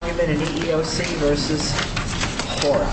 Climate and EEOC v. Hora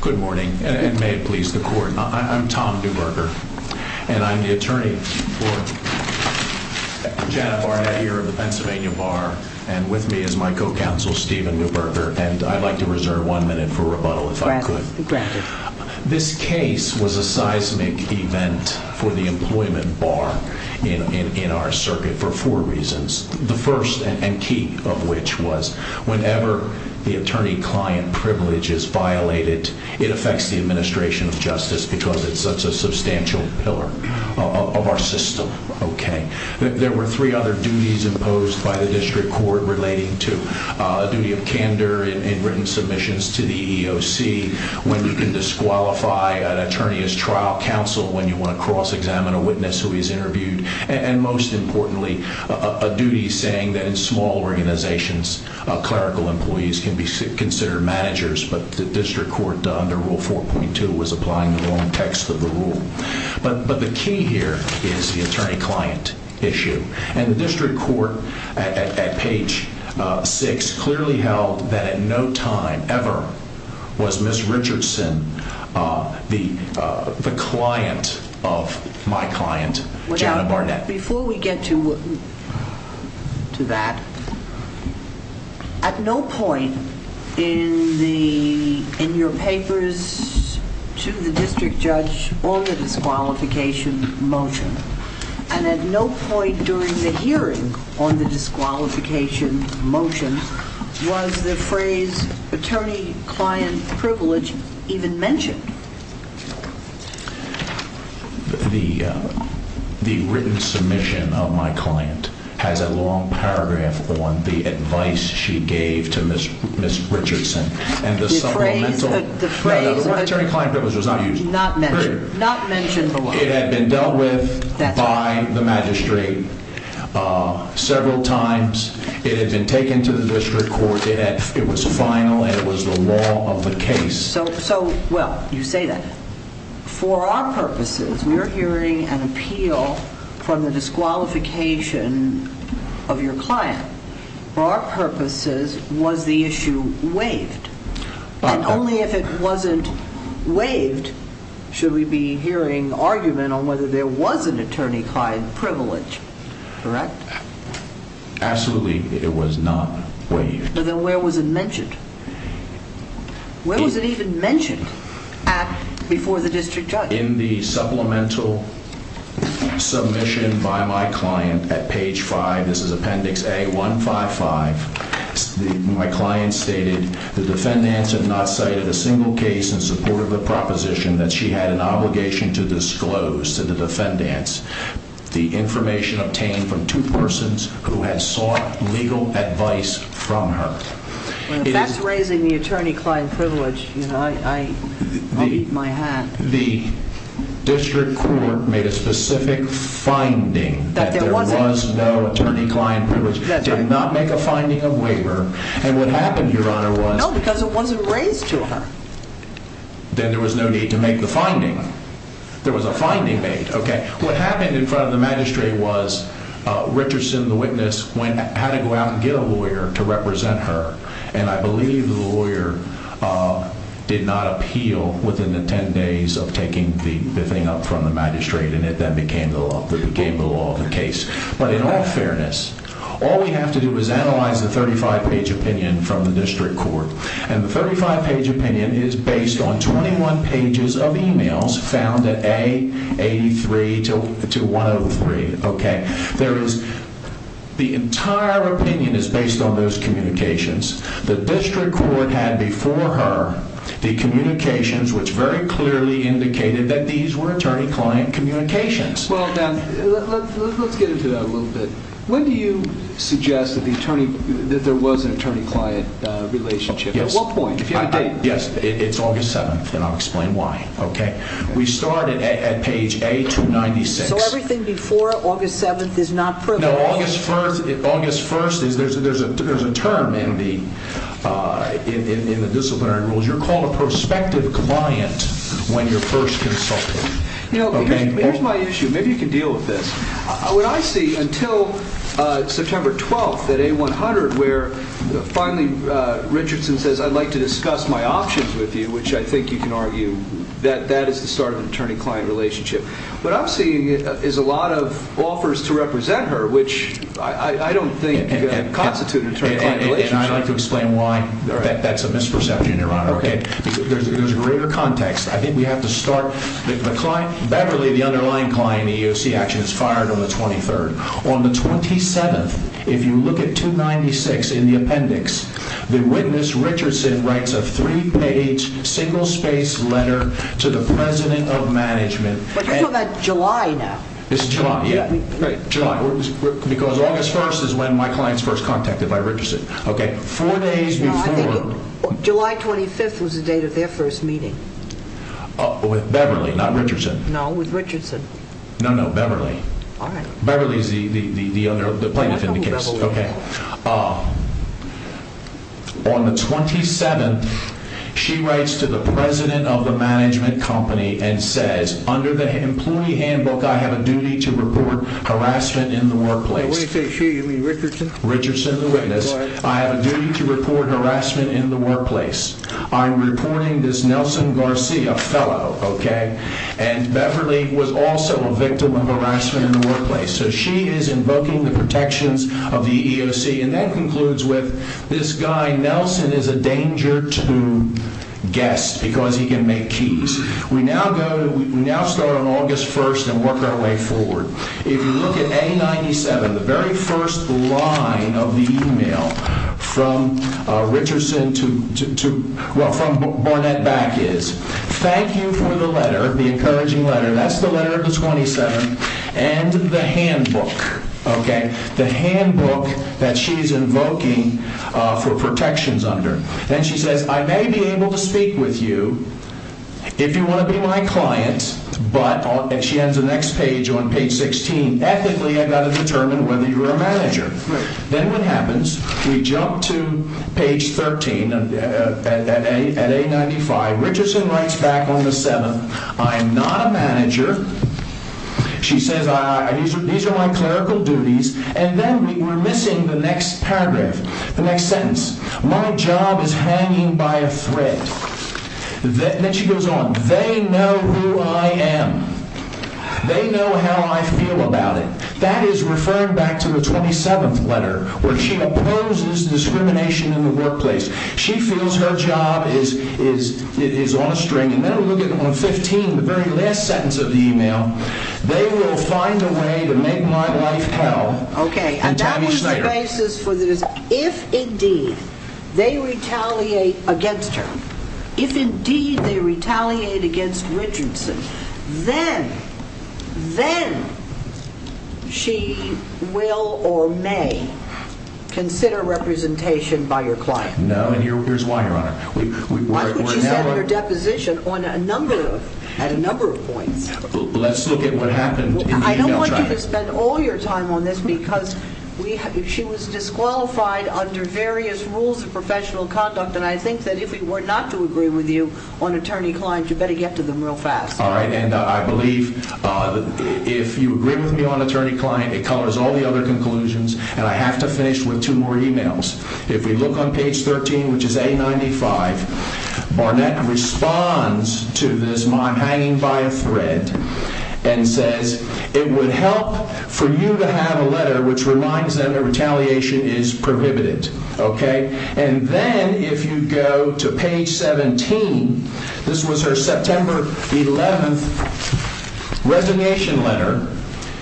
Good morning, and may it please the court, I'm Tom Neuberger, and I'm the attorney for Janet Barnett here of the Pennsylvania Bar, and with me is my co-counsel Stephen Neuberger, and I'd like to reserve one minute for rebuttal if I could. Granted. This case was a seismic event for the employment bar in our circuit for four reasons. The first, and key of which, was whenever the attorney-client privilege is violated, it affects the administration of justice because it's such a substantial pillar of our system. There were three other duties imposed by the district court relating to a duty of candor in written submissions to the EEOC, when you can disqualify an attorney as trial counsel when you want to cross-examine a witness who he's interviewed, and most importantly, a duty saying that in small organizations, clerical employees can be considered managers, but the district court, under Rule 4.2, was applying the wrong text of the rule. But the key here is the attorney-client issue, and the district court, at page 6, clearly held that at no time ever was Ms. Richardson the client of my client, Janet Barnett. But before we get to that, at no point in your papers to the district judge on the disqualification motion, and at no point during the hearing on the disqualification motion, was the phrase attorney-client privilege even mentioned. The written submission of my client has a long paragraph on the advice she gave to Ms. Richardson. The phrase attorney-client privilege was not used. Not mentioned. Not mentioned at all. It had been dealt with by the magistrate several times. It had been taken to the district court. It was final, and it was the law of the case. So, well, you say that. For our purposes, we are hearing an appeal from the disqualification of your client. For our purposes, was the issue waived? And only if it wasn't waived should we be hearing argument on whether there was an attorney-client privilege. Correct? Absolutely, it was not waived. Then where was it mentioned? Where was it even mentioned before the district judge? In the supplemental submission by my client at page 5. This is appendix A155. My client stated the defendants had not cited a single case in support of the proposition that she had an obligation to disclose to the defendants the information obtained from two persons who had sought legal advice from her. If that's raising the attorney-client privilege, you know, I'll eat my hat. The district court made a specific finding that there was no attorney-client privilege. Did not make a finding of waiver, and what happened, Your Honor, was No, because it wasn't raised to her. Then there was no need to make the finding. There was a finding made, okay? I had to go out and get a lawyer to represent her, and I believe the lawyer did not appeal within the 10 days of taking the thing up from the magistrate, and it then became the law of the case. But in all fairness, all we have to do is analyze the 35-page opinion from the district court, and the 35-page opinion is based on 21 pages of emails found at A83 to 103, okay? The entire opinion is based on those communications. The district court had before her the communications which very clearly indicated that these were attorney-client communications. Well, now, let's get into that a little bit. When do you suggest that there was an attorney-client relationship? At what point? If you have a date. Yes, it's August 7th, and I'll explain why, okay? We started at page A296. So everything before August 7th is not proven. No, August 1st, there's a term in the disciplinary rules. You're called a prospective client when you're first consulted. Here's my issue. Maybe you can deal with this. What I see until September 12th at A100 where finally Richardson says, I'd like to discuss my options with you, which I think you can argue that that is the start of an attorney-client relationship. What I'm seeing is a lot of offers to represent her, which I don't think constitute an attorney-client relationship. And I'd like to explain why that's a misperception, Your Honor, okay? There's a greater context. I think we have to start. Beverly, the underlying client in the EOC action, is fired on the 23rd. On the 27th, if you look at 296 in the appendix, the witness, Richardson, writes a three-page single-space letter to the president of management. But you're talking about July now. It's July, yeah. July. Because August 1st is when my client's first contacted by Richardson, okay? Four days before. No, I think July 25th was the date of their first meeting. With Beverly, not Richardson. No, with Richardson. No, no, Beverly. All right. Beverly's the plaintiff in the case. Okay. On the 27th, she writes to the president of the management company and says, under the employee handbook, I have a duty to report harassment in the workplace. When you say she, you mean Richardson? Richardson, the witness. All right. I have a duty to report harassment in the workplace. I'm reporting this Nelson Garcia fellow, okay? And Beverly was also a victim of harassment in the workplace. So she is invoking the protections of the EEOC. And that concludes with this guy, Nelson, is a danger to guests because he can make keys. We now go to, we now start on August 1st and work our way forward. If you look at A97, the very first line of the email from Richardson to, well, from Barnett back is, thank you for the letter, the encouraging letter. That's the letter of the 27th. And the handbook, okay? The handbook that she's invoking for protections under. Then she says, I may be able to speak with you if you want to be my client. But she ends the next page on page 16. Then what happens? We jump to page 13 at A95. Richardson writes back on the 7th. I am not a manager. She says, these are my clerical duties. And then we're missing the next paragraph, the next sentence. My job is hanging by a thread. Then she goes on. They know who I am. They know how I feel about it. That is referring back to the 27th letter where she opposes discrimination in the workplace. She feels her job is on a string. And then we look at on 15, the very last sentence of the email. They will find a way to make my life hell. Okay, and that was the basis for this. If indeed they retaliate against her, if indeed they retaliate against Richardson, then she will or may consider representation by your client. No, and here's why, Your Honor. Why could she send her deposition on a number of, at a number of points? Let's look at what happened in the email traffic. I don't want you to spend all your time on this because she was disqualified under various rules of professional conduct. And I think that if we were not to agree with you on attorney-client, you better get to them real fast. All right, and I believe if you agree with me on attorney-client, it colors all the other conclusions, and I have to finish with two more emails. If we look on page 13, which is A95, Barnett responds to this, I'm hanging by a thread, and says, It would help for you to have a letter which reminds them that retaliation is prohibited. Okay? And then if you go to page 17, this was her September 11th resignation letter,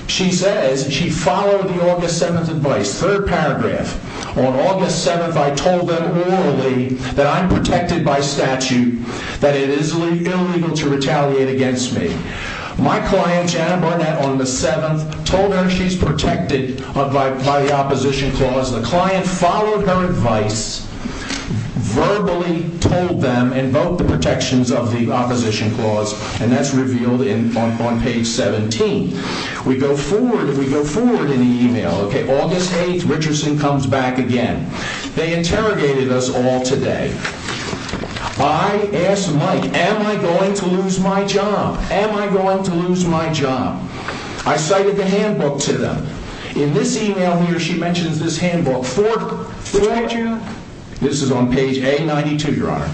she says she followed the August 7th advice. Third paragraph. On August 7th, I told them orally that I'm protected by statute, that it is illegal to retaliate against me. My client, Janet Barnett, on the 7th, told her she's protected by the opposition clause. The client followed her advice, verbally told them, invoked the protections of the opposition clause, and that's revealed on page 17. We go forward, we go forward in the email. Okay, August 8th, Richardson comes back again. They interrogated us all today. I asked Mike, Am I going to lose my job? Am I going to lose my job? I cited the handbook to them. In this email here, she mentions this handbook. This is on page A92, Your Honor.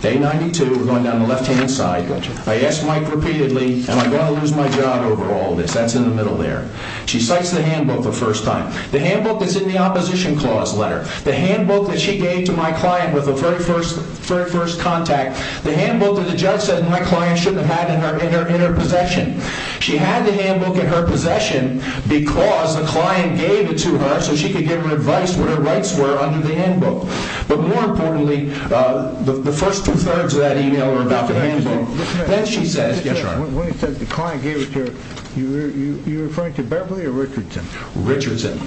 A92, we're going down the left-hand side. I asked Mike repeatedly, Am I going to lose my job over all this? That's in the middle there. She cites the handbook the first time. The handbook that's in the opposition clause letter, the handbook that she gave to my client with the very first contact, the handbook that the judge said my client shouldn't have had in her possession. She had the handbook in her possession because the client gave it to her so she could give him advice on what her rights were under the handbook. But more importantly, the first two-thirds of that email were about the handbook. Then she says, Yes, Your Honor. When she says the client gave it to her, you're referring to Beverly or Richardson? Richardson.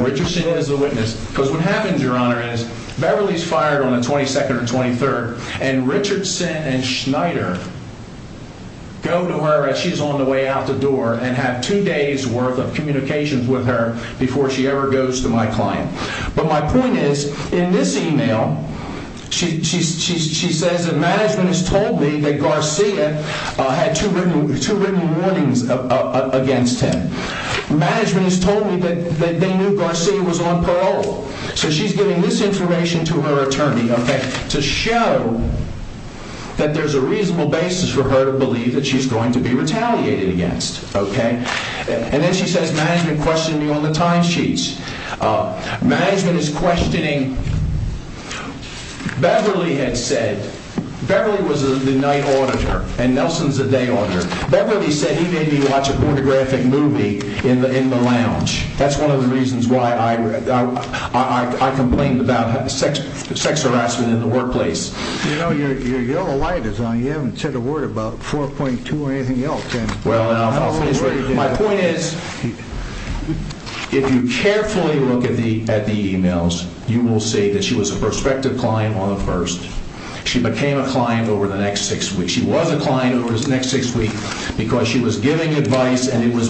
Richardson is the witness. Because what happens, Your Honor, is Beverly is fired on the 22nd or 23rd, and Richardson and Schneider go to her as she's on the way out the door and have two days' worth of communications with her before she ever goes to my client. But my point is, in this email, she says that management has told me that Garcia had two written warnings against him. Management has told me that they knew Garcia was on parole. So she's giving this information to her attorney, okay, to show that there's a reasonable basis for her to believe that she's going to be retaliated against, okay? And then she says management questioned me on the timesheets. Management is questioning. Beverly had said, Beverly was the night auditor and Nelson's the day auditor. Beverly said he made me watch a pornographic movie in the lounge. That's one of the reasons why I complained about sex harassment in the workplace. You know, your yellow light is on. You haven't said a word about 4.2 or anything else. Well, my point is, if you carefully look at the emails, you will see that she was a prospective client on the first. She became a client over the next six weeks. She was a client over the next six weeks because she was giving advice and it was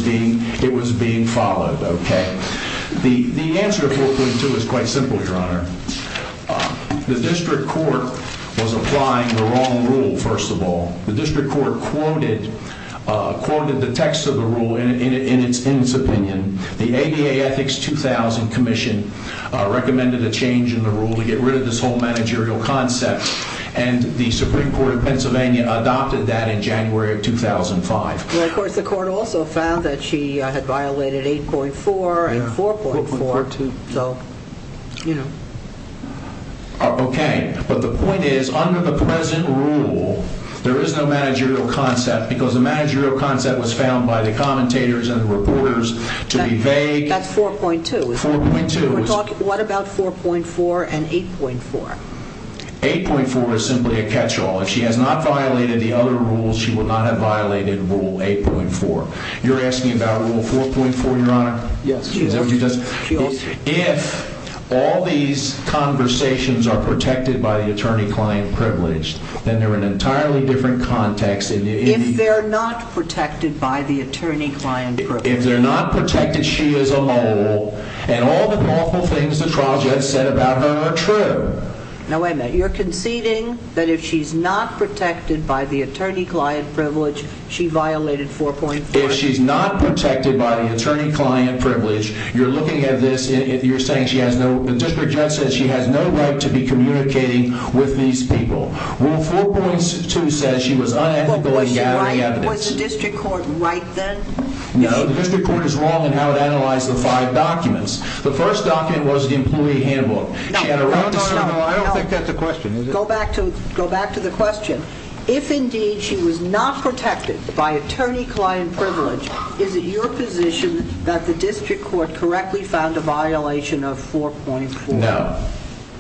being followed, okay? The answer to 4.2 is quite simple, Your Honor. The district court was applying the wrong rule, first of all. The district court quoted the text of the rule in its opinion. The ADA Ethics 2000 Commission recommended a change in the rule to get rid of this whole managerial concept, and the Supreme Court of Pennsylvania adopted that in January of 2005. Well, of course, the court also found that she had violated 8.4 and 4.4, so, you know. Okay, but the point is, under the present rule, there is no managerial concept because the managerial concept was found by the commentators and the reporters to be vague. That's 4.2. 4.2. What about 4.4 and 8.4? 8.4 is simply a catch-all. If she has not violated the other rules, she will not have violated Rule 8.4. You're asking about Rule 4.4, Your Honor? Yes. If all these conversations are protected by the attorney-client privileged, then they're in an entirely different context. If they're not protected by the attorney-client privileged. If they're not protected, she is a mole, and all the lawful things the trial judge said about her are true. Now, wait a minute. You're conceding that if she's not protected by the attorney-client privileged, she violated 4.4? If she's not protected by the attorney-client privileged, you're looking at this and you're saying she has no— the district judge said she has no right to be communicating with these people. Rule 4.2 says she was unethical in gathering evidence. Was the district court right then? No, the district court is wrong in how it analyzed the five documents. The first document was the employee handbook. No, no, no. I don't think that's a question. Go back to the question. If indeed she was not protected by attorney-client privileged, is it your position that the district court correctly found a violation of 4.4? No.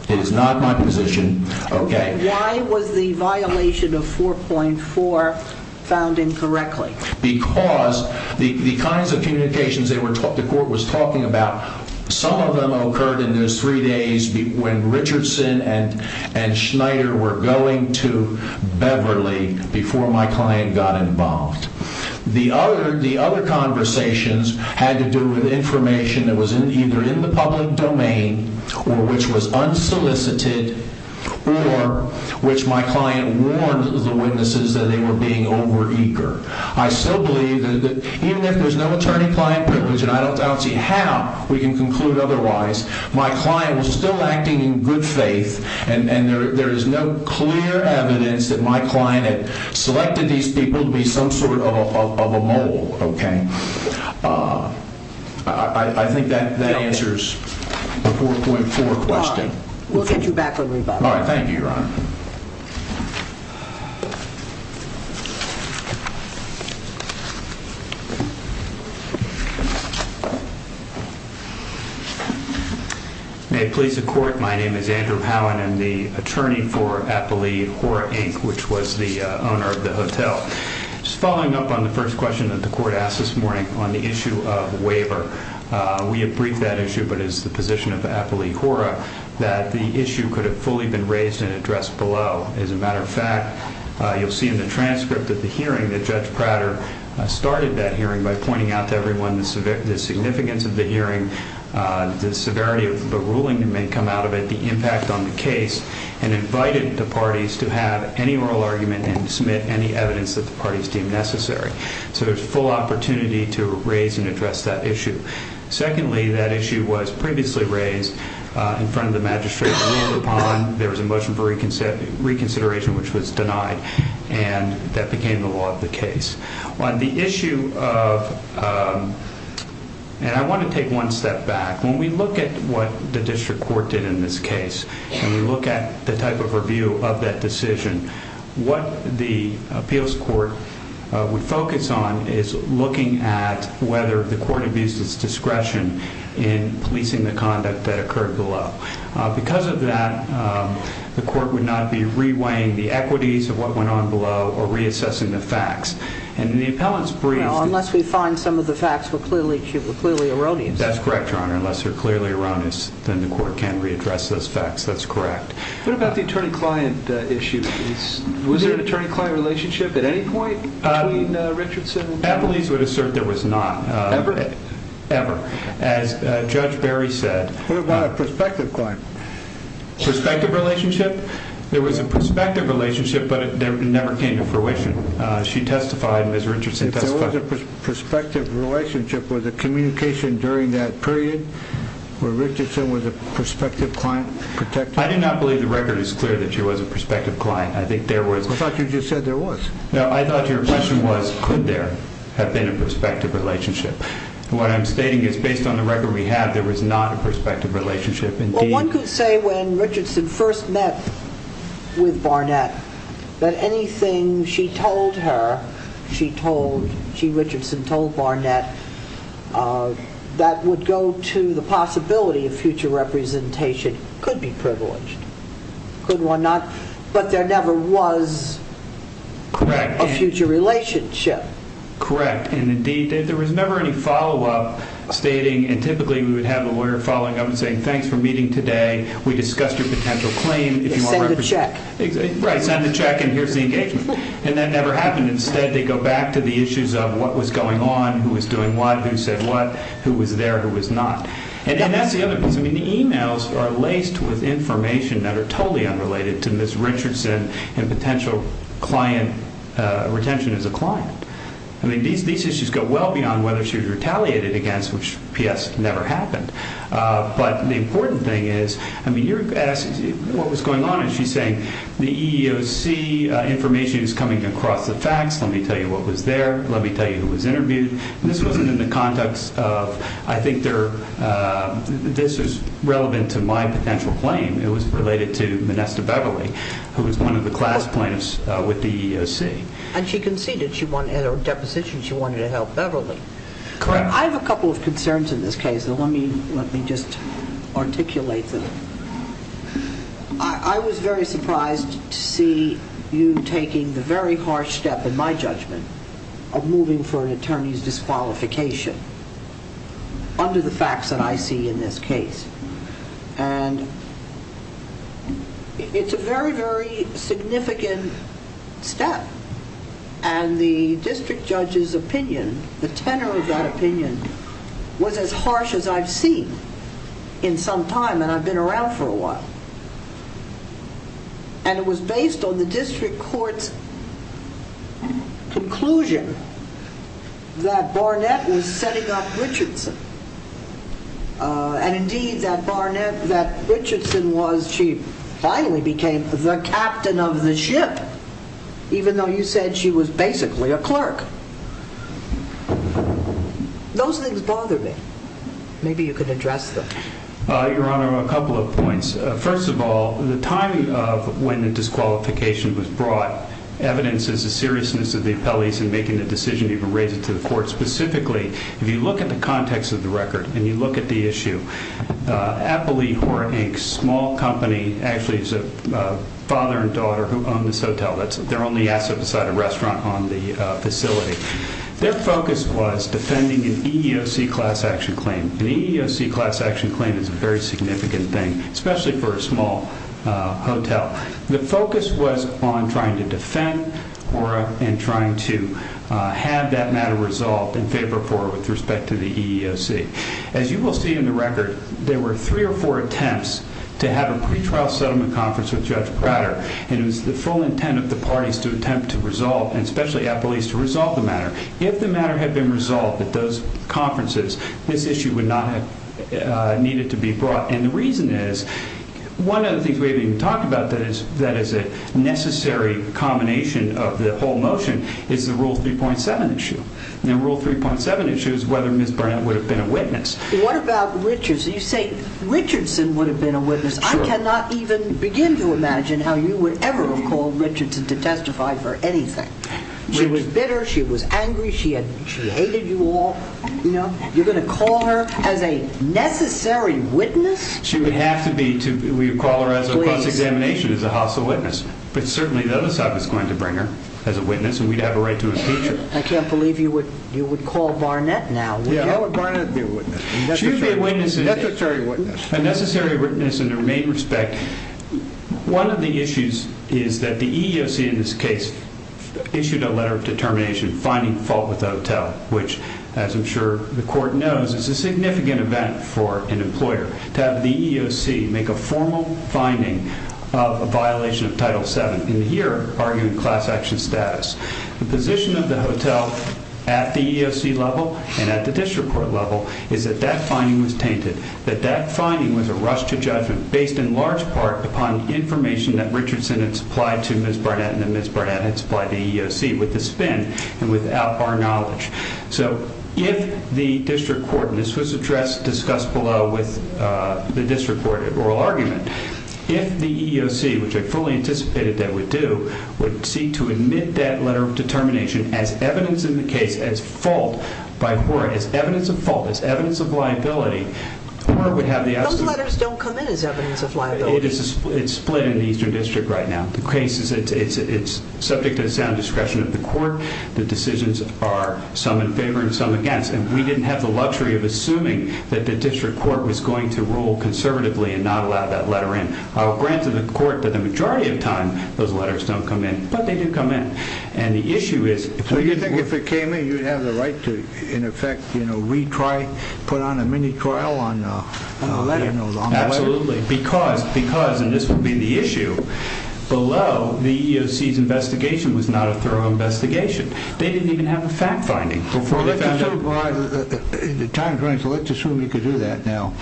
It is not my position. Okay. Why was the violation of 4.4 found incorrectly? Because the kinds of communications the court was talking about, some of them occurred in those three days when Richardson and Schneider were going to Beverly before my client got involved. The other conversations had to do with information that was either in the public domain or which was unsolicited or which my client warned the witnesses that they were being over-eager. I still believe that even if there's no attorney-client privilege, and I don't see how we can conclude otherwise, my client was still acting in good faith and there is no clear evidence that my client had selected these people to be some sort of a mole. Okay. I think that answers the 4.4 question. All right. We'll get you back when we get back. All right. Thank you, Your Honor. May it please the Court, my name is Andrew Howen. I'm the attorney for Appli Hora, Inc., which was the owner of the hotel. Just following up on the first question that the Court asked this morning on the issue of waiver, we have briefed that issue, but it's the position of Appli Hora that the issue could have fully been raised and addressed below. As a matter of fact, you'll see in the transcript of the hearing that Judge Prater started that hearing by pointing out to everyone the significance of the hearing, the severity of the ruling that may come out of it, the impact on the case, and invited the parties to have any oral argument and submit any evidence that the parties deemed necessary. So there's full opportunity to raise and address that issue. Secondly, that issue was previously raised in front of the magistrate. There was a motion for reconsideration, which was denied, and that became the law of the case. On the issue of, and I want to take one step back. When we look at what the district court did in this case, and we look at the type of review of that decision, what the appeals court would focus on is looking at whether the court abused its discretion in policing the conduct that occurred below. Because of that, the court would not be reweighing the equities of what went on below or reassessing the facts. And the appellant's brief... Well, unless we find some of the facts were clearly erroneous. That's correct, Your Honor. Unless they're clearly erroneous, then the court can readdress those facts. That's correct. What about the attorney-client issue? Was there an attorney-client relationship at any point between Richardson and Prater? Appellees would assert there was not. Ever? Ever. As Judge Berry said. What about a prospective client? Prospective relationship? There was a prospective relationship, but it never came to fruition. She testified, Ms. Richardson testified. If there was a prospective relationship, was the communication during that period where Richardson was a prospective client protected? I do not believe the record is clear that she was a prospective client. I thought you just said there was. No, I thought your question was, could there have been a prospective relationship? What I'm stating is, based on the record we have, there was not a prospective relationship. One could say when Richardson first met with Barnett that anything she told her, she told, she, Richardson, told Barnett, that would go to the possibility of future representation could be privileged. Could one not? But there never was a future relationship. Correct. Indeed, there was never any follow-up stating, and typically we would have a lawyer following up and saying, thanks for meeting today. We discussed your potential claim. Send a check. Right, send a check and here's the engagement. And that never happened. Instead, they go back to the issues of what was going on, who was doing what, who said what, who was there, who was not. And that's the other piece. I mean, the emails are laced with information that are totally unrelated to Ms. Richardson and potential client retention as a client. I mean, these issues go well beyond whether she was retaliated against, which, P.S., never happened. But the important thing is, I mean, you're asking what was going on, and she's saying the EEOC information is coming across the facts. Let me tell you what was there. Let me tell you who was interviewed. This wasn't in the context of I think this is relevant to my potential claim. It was related to Manesta Beverly, who was one of the class plaintiffs with the EEOC. And she conceded. At her deposition, she wanted to help Beverly. Correct. I have a couple of concerns in this case, and let me just articulate them. I was very surprised to see you taking the very harsh step, in my judgment, of moving for an attorney's disqualification under the facts that I see in this case. And it's a very, very significant step. And the district judge's opinion, the tenor of that opinion, was as harsh as I've seen in some time, and I've been around for a while. And it was based on the district court's conclusion that Barnett was setting up Richardson. And, indeed, that Richardson finally became the captain of the ship, even though you said she was basically a clerk. Those things bother me. Maybe you can address them. Your Honor, a couple of points. First of all, the timing of when the disqualification was brought evidences the seriousness of the appellees in making the decision to even raise it to the court. Specifically, if you look at the context of the record and you look at the issue, Appellee Hora, Inc., a small company, actually is a father and daughter who own this hotel. That's their only asset beside a restaurant on the facility. Their focus was defending an EEOC class action claim. An EEOC class action claim is a very significant thing, especially for a small hotel. The focus was on trying to defend Hora and trying to have that matter resolved in favor of Hora with respect to the EEOC. As you will see in the record, there were three or four attempts to have a pretrial settlement conference with Judge Prater. And it was the full intent of the parties to attempt to resolve, and especially appellees, to resolve the matter. If the matter had been resolved at those conferences, this issue would not have needed to be brought. And the reason is, one of the things we haven't even talked about that is a necessary combination of the whole motion is the Rule 3.7 issue. And Rule 3.7 issues whether Ms. Burnett would have been a witness. What about Richardson? You say Richardson would have been a witness. I cannot even begin to imagine how you would ever have called Richardson to testify for anything. She was bitter. She was angry. She hated you all. You're going to call her as a necessary witness? She would have to be. We would call her as a plus examination as a hostile witness. But certainly the other side was going to bring her as a witness, and we'd have a right to impeach her. I can't believe you would call Burnett now. Why would Burnett be a witness? She would be a witness. A necessary witness. A necessary witness in the main respect. One of the issues is that the EEOC in this case issued a letter of determination finding fault with the hotel, which, as I'm sure the court knows, is a significant event for an employer. To have the EEOC make a formal finding of a violation of Title VII in here arguing class action status. The position of the hotel at the EEOC level and at the district court level is that that finding was tainted. That that finding was a rush to judgment based in large part upon information that Richardson had supplied to Ms. Burnett and that Ms. Burnett had supplied to the EEOC with the spin and without our knowledge. So if the district court, and this was addressed, discussed below with the district court at oral argument, if the EEOC, which I fully anticipated they would do, would seek to admit that letter of determination as evidence in the case, as fault by Hora, as evidence of fault, as evidence of liability, Hora would have the absolute. Those letters don't come in as evidence of liability. It's split in the eastern district right now. The case is subject to the sound discretion of the court. The decisions are some in favor and some against. And we didn't have the luxury of assuming that the district court was going to rule conservatively and not allow that letter in. I'll grant to the court that the majority of the time those letters don't come in. But they do come in. So you think if it came in you'd have the right to, in effect, retry, put on a mini trial on the letter? Absolutely. Because, and this would be the issue, below the EEOC's investigation was not a thorough investigation. They didn't even have a fact finding before they found out. The time is running, so let's assume you could do that now.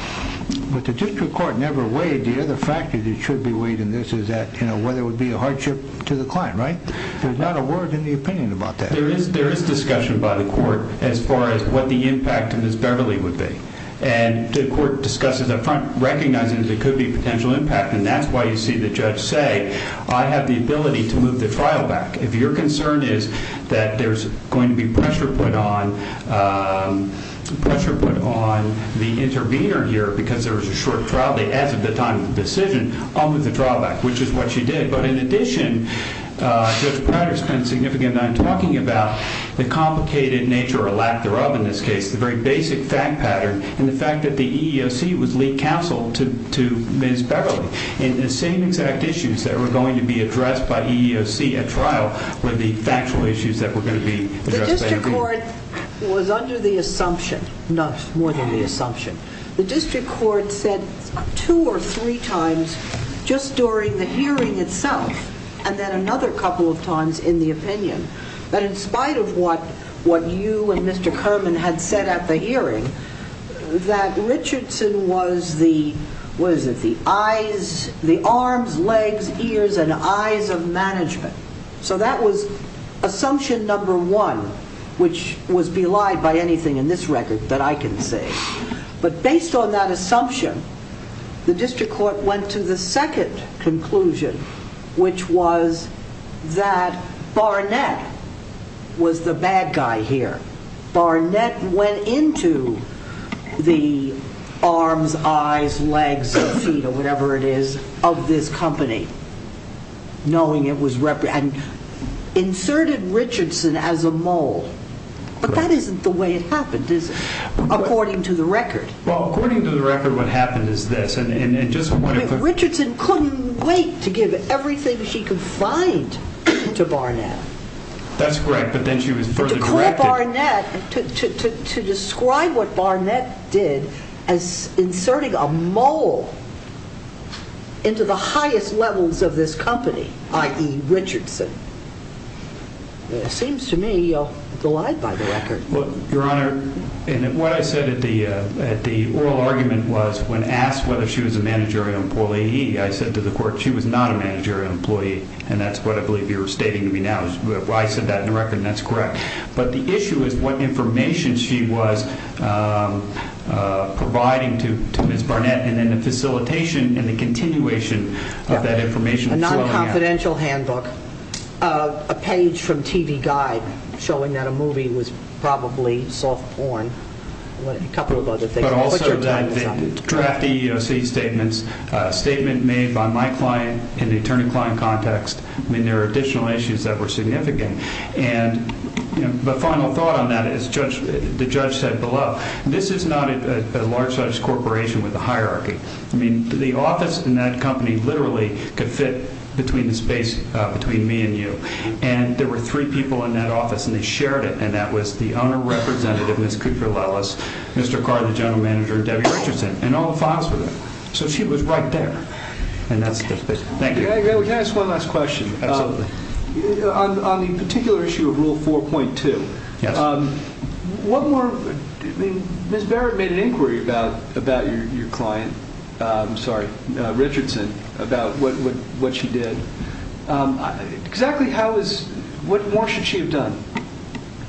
But the district court never weighed, the other factor that should be weighed in this is whether it would be a hardship to the client, right? There's not a word in the opinion about that. There is discussion by the court as far as what the impact of Ms. Beverly would be. And the court discusses up front recognizing that there could be a potential impact. And that's why you see the judge say, I have the ability to move the trial back. If your concern is that there's going to be pressure put on the intervener here because there was a short trial, as of the time of the decision, I'll move the trial back, which is what she did. But in addition, Judge Prater spent a significant amount of time talking about the complicated nature or lack thereof in this case. The very basic fact pattern and the fact that the EEOC was lead counsel to Ms. Beverly. And the same exact issues that were going to be addressed by EEOC at trial were the factual issues that were going to be addressed by the EEOC. The district court was under the assumption, not more than the assumption. The district court said two or three times just during the hearing itself, and then another couple of times in the opinion, that in spite of what you and Mr. Kerman had said at the hearing, that Richardson was the arms, legs, ears, and eyes of management. So that was assumption number one, which was belied by anything in this record that I can say. But based on that assumption, the district court went to the second conclusion, which was that Barnett was the bad guy here. Barnett went into the arms, eyes, legs, feet, or whatever it is, of this company, knowing it was, and inserted Richardson as a mole. But that isn't the way it happened, according to the record. Well, according to the record, what happened is this. Richardson couldn't wait to give everything she could find to Barnett. That's correct, but then she was further directed. To call Barnett, to describe what Barnett did as inserting a mole into the highest levels of this company, i.e. Richardson. Seems to me belied by the record. Your Honor, what I said at the oral argument was, when asked whether she was a managerial employee, I said to the court she was not a managerial employee, and that's what I believe you're stating to me now. I said that in the record, and that's correct. But the issue is what information she was providing to Ms. Barnett, and then the facilitation and the continuation of that information. A non-confidential handbook, a page from TV Guide showing that a movie was probably soft porn, and a couple of other things. But also the draft EEOC statements, a statement made by my client in the attorney-client context. I mean, there were additional issues that were significant. And the final thought on that, as the judge said below, this is not a large-sized corporation with a hierarchy. I mean, the office in that company literally could fit between the space between me and you. And there were three people in that office, and they shared it, and that was the owner representative, Ms. Cooper-Lewis, Mr. Carr, the general manager, and Debbie Richardson. And all the files were there. So she was right there. Thank you. Can I ask one last question? Absolutely. On the particular issue of Rule 4.2, Ms. Barrett made an inquiry about your client, sorry, Richardson, about what she did. Exactly what more should she have done?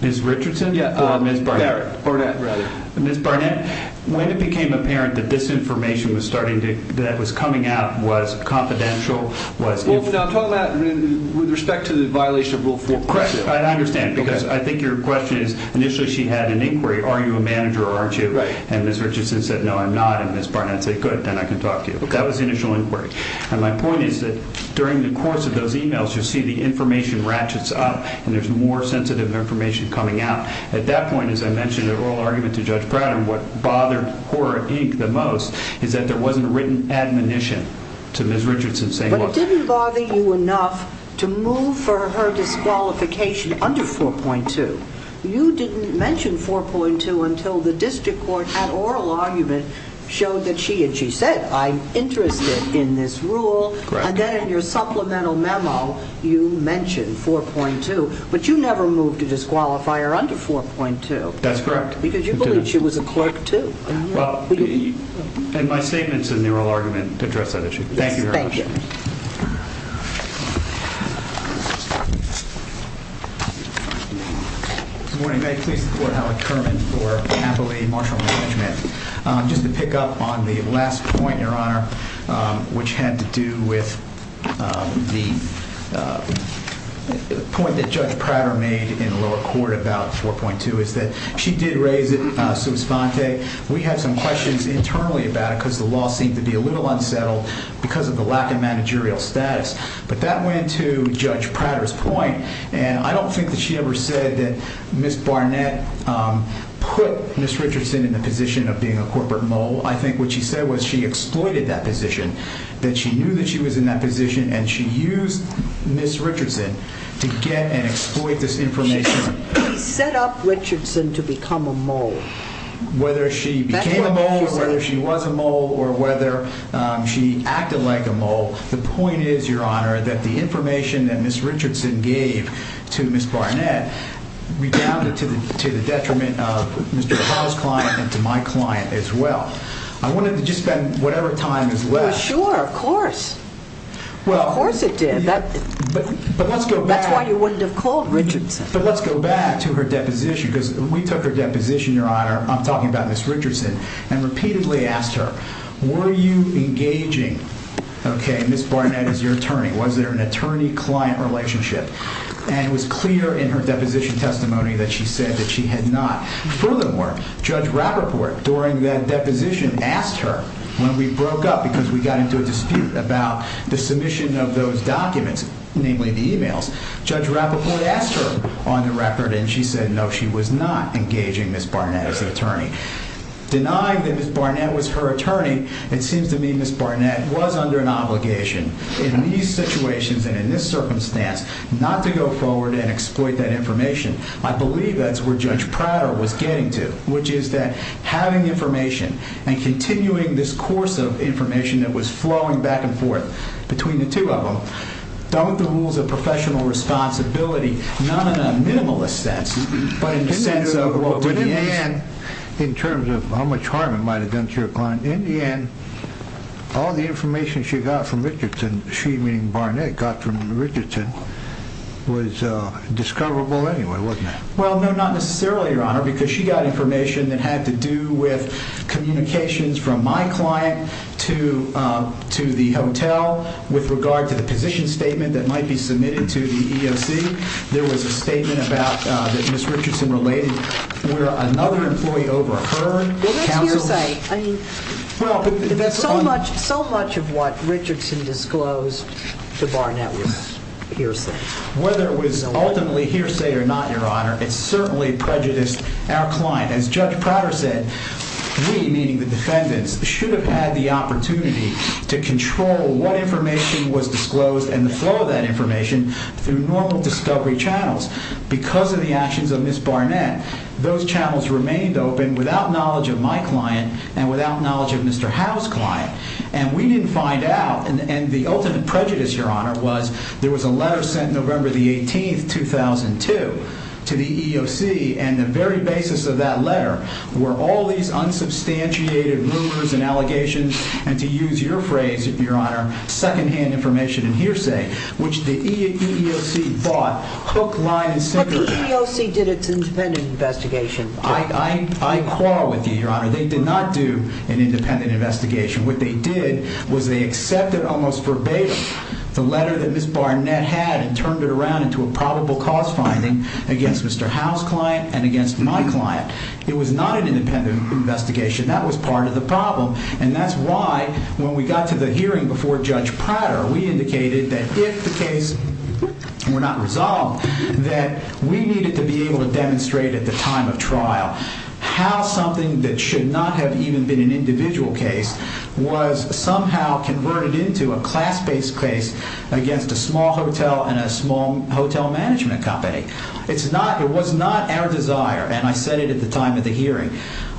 Ms. Richardson or Ms. Barnett? Barnett, rather. Ms. Barnett, when it became apparent that this information that was coming out was confidential, was it? I'm talking about with respect to the violation of Rule 4. Correct. I understand, because I think your question is initially she had an inquiry, are you a manager or aren't you? Right. And Ms. Richardson said, no, I'm not. And Ms. Barnett said, good, then I can talk to you. That was the initial inquiry. And my point is that during the course of those emails, you see the information ratchets up, and there's more sensitive information coming out. At that point, as I mentioned in the oral argument to Judge Pratt and what bothered Hora, Inc. the most, is that there wasn't written admonition to Ms. Richardson saying, look. It didn't bother you enough to move for her disqualification under 4.2. You didn't mention 4.2 until the district court had oral argument, showed that she had, she said, I'm interested in this rule. Correct. And then in your supplemental memo, you mentioned 4.2. But you never moved to disqualify her under 4.2. That's correct. Because you believed she was a clerk, too. And my statements in the oral argument address that issue. Thank you very much. Thank you. Good morning. May it please the Court, Howard Kerman for happily martial law judgment. Just to pick up on the last point, Your Honor, which had to do with the point that Judge Pratt made in lower court about 4.2, is that she did raise it sui sponte. We had some questions internally about it because the law seemed to be a little unsettled because of the lack of managerial status. But that went to Judge Pratt's point. And I don't think that she ever said that Ms. Barnett put Ms. Richardson in the position of being a corporate mole. I think what she said was she exploited that position, that she knew that she was in that position, and she used Ms. Richardson to get and exploit this information. She set up Richardson to become a mole. Whether she became a mole or whether she was a mole or whether she acted like a mole, the point is, Your Honor, that the information that Ms. Richardson gave to Ms. Barnett redounded to the detriment of Mr. Harrell's client and to my client as well. I wanted to just spend whatever time is left. Well, sure. Of course. Of course it did. But let's go back. That's why you wouldn't have called Richardson. But let's go back to her deposition because when we took her deposition, Your Honor, I'm talking about Ms. Richardson, and repeatedly asked her, were you engaging Ms. Barnett as your attorney? Was there an attorney-client relationship? And it was clear in her deposition testimony that she said that she had not. Furthermore, Judge Rappaport, during that deposition, asked her when we broke up because we got into a dispute about the submission of those documents, namely the e-mails. Judge Rappaport asked her on the record, and she said no, she was not engaging Ms. Barnett as an attorney. Denying that Ms. Barnett was her attorney, it seems to me Ms. Barnett was under an obligation in these situations and in this circumstance not to go forward and exploit that information. I believe that's where Judge Prater was getting to, which is that having information and continuing this course of information that was flowing back and forth between the two of them don't the rules of professional responsibility, not in a minimalist sense, but in the sense of what would have been... But in the end, in terms of how much harm it might have done to your client, in the end, all the information she got from Richardson, she meaning Barnett, got from Richardson, was discoverable anyway, wasn't it? Well, no, not necessarily, Your Honor, because she got information that had to do with that might be submitted to the EOC. There was a statement that Ms. Richardson related where another employee overheard... Well, that's hearsay. I mean, so much of what Richardson disclosed to Barnett was hearsay. Whether it was ultimately hearsay or not, Your Honor, it certainly prejudiced our client. As Judge Prater said, we, meaning the defendants, should have had the opportunity to control what information was disclosed and the flow of that information through normal discovery channels. Because of the actions of Ms. Barnett, those channels remained open without knowledge of my client and without knowledge of Mr. Howe's client. And we didn't find out, and the ultimate prejudice, Your Honor, was there was a letter sent November the 18th, 2002, to the EOC, and the very basis of that letter were all these unsubstantiated rumors and allegations and, to use your phrase, Your Honor, secondhand information and hearsay, which the EEOC bought hook, line, and sinker. But the EEOC did its independent investigation. I quarrel with you, Your Honor. They did not do an independent investigation. What they did was they accepted almost verbatim the letter that Ms. Barnett had and turned it around into a probable cause finding against Mr. Howe's client and against my client. It was not an independent investigation. That was part of the problem, and that's why when we got to the hearing before Judge Prater, we indicated that if the case were not resolved, that we needed to be able to demonstrate at the time of trial how something that should not have even been an individual case was somehow converted into a class-based case against a small hotel and a small hotel management company. It was not our desire, and I said it at the time of the hearing.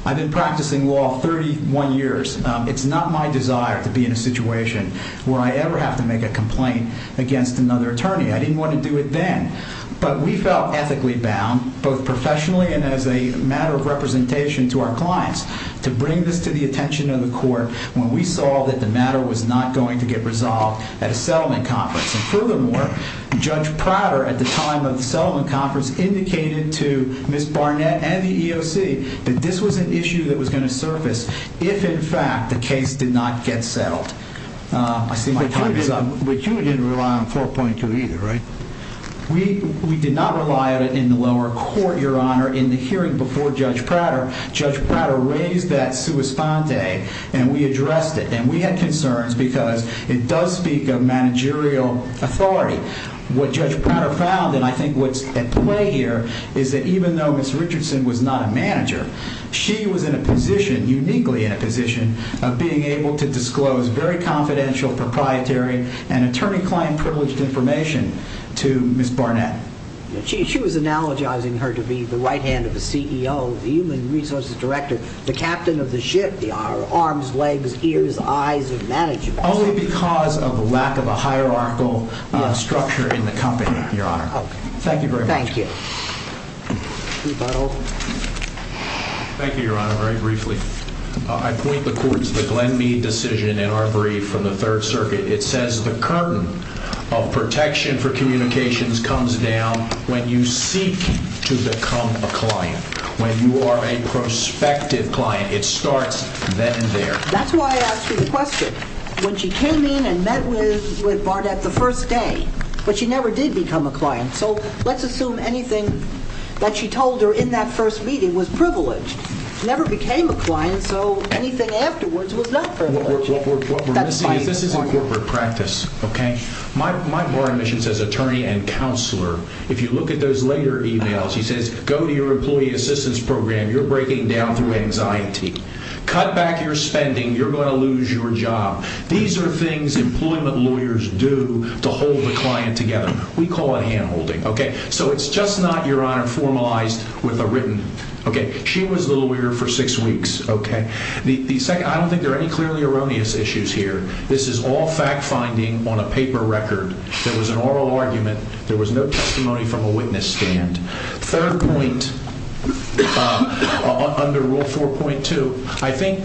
I've been practicing law 31 years. It's not my desire to be in a situation where I ever have to make a complaint against another attorney. I didn't want to do it then, but we felt ethically bound, both professionally and as a matter of representation to our clients, to bring this to the attention of the court when we saw that the matter was not going to get resolved at a settlement conference. And furthermore, Judge Prater, at the time of the settlement conference, indicated to Ms. Barnett and the EOC that this was an issue that was going to surface if, in fact, the case did not get settled. I see my time is up. But you didn't rely on 4.2 either, right? We did not rely on it in the lower court, Your Honor. In the hearing before Judge Prater, Judge Prater raised that sua sponte, and we addressed it, and we had concerns because it does speak of managerial authority. What Judge Prater found, and I think what's at play here, is that even though Ms. Richardson was not a manager, she was in a position, uniquely in a position, of being able to disclose very confidential, proprietary, and attorney-client-privileged information to Ms. Barnett. She was analogizing her to be the right hand of the CEO, the human resources director, the captain of the ship, the arms, legs, ears, eyes of management. Only because of a lack of a hierarchical structure in the company, Your Honor. Thank you very much. Thank you. Thank you, Your Honor. Very briefly, I point the court to the Glenn Mead decision in our brief from the Third Circuit. It says the curtain of protection for communications comes down when you seek to become a client, when you are a prospective client. It starts then and there. That's why I asked you the question. When she came in and met with Barnett the first day, but she never did become a client, so let's assume anything that she told her in that first meeting was privileged. She never became a client, so anything afterwards was not privileged. What we're missing is this is in corporate practice, okay? My bar admission says attorney and counselor. If you look at those later emails, he says, go to your employee assistance program. You're breaking down through anxiety. Cut back your spending. You're going to lose your job. These are things employment lawyers do to hold the client together. We call it hand-holding, okay? So it's just not, Your Honor, formalized with a written, okay? She was the lawyer for six weeks, okay? I don't think there are any clearly erroneous issues here. This is all fact-finding on a paper record. There was an oral argument. There was no testimony from a witness stand. Third point, under Rule 4.2, I think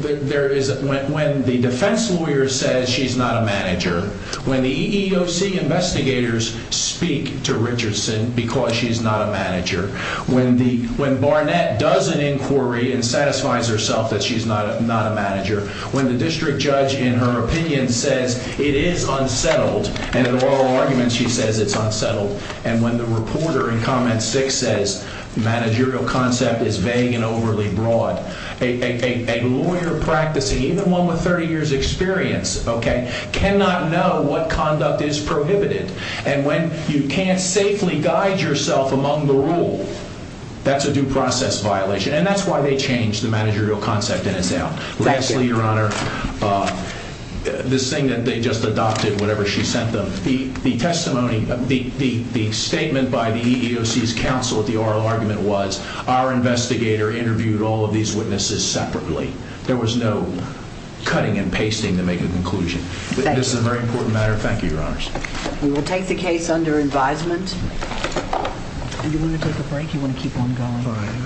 there is, when the defense lawyer says she's not a manager, when the EEOC investigators speak to Richardson because she's not a manager, when Barnett does an inquiry and satisfies herself that she's not a manager, when the district judge, in her opinion, says it is unsettled, and in the oral argument she says it's unsettled, and when the reporter in Comment 6 says managerial concept is vague and overly broad, a lawyer practicing, even one with 30 years' experience, okay, cannot know what conduct is prohibited. And when you can't safely guide yourself among the rule, that's a due process violation. And that's why they changed the managerial concept in this out. Lastly, Your Honor, this thing that they just adopted, whatever she sent them, the testimony, the statement by the EEOC's counsel at the oral argument was our investigator interviewed all of these witnesses separately. There was no cutting and pasting to make a conclusion. This is a very important matter. Thank you, Your Honors. We will take the case under advisement. If you want to take a break, you want to keep on going.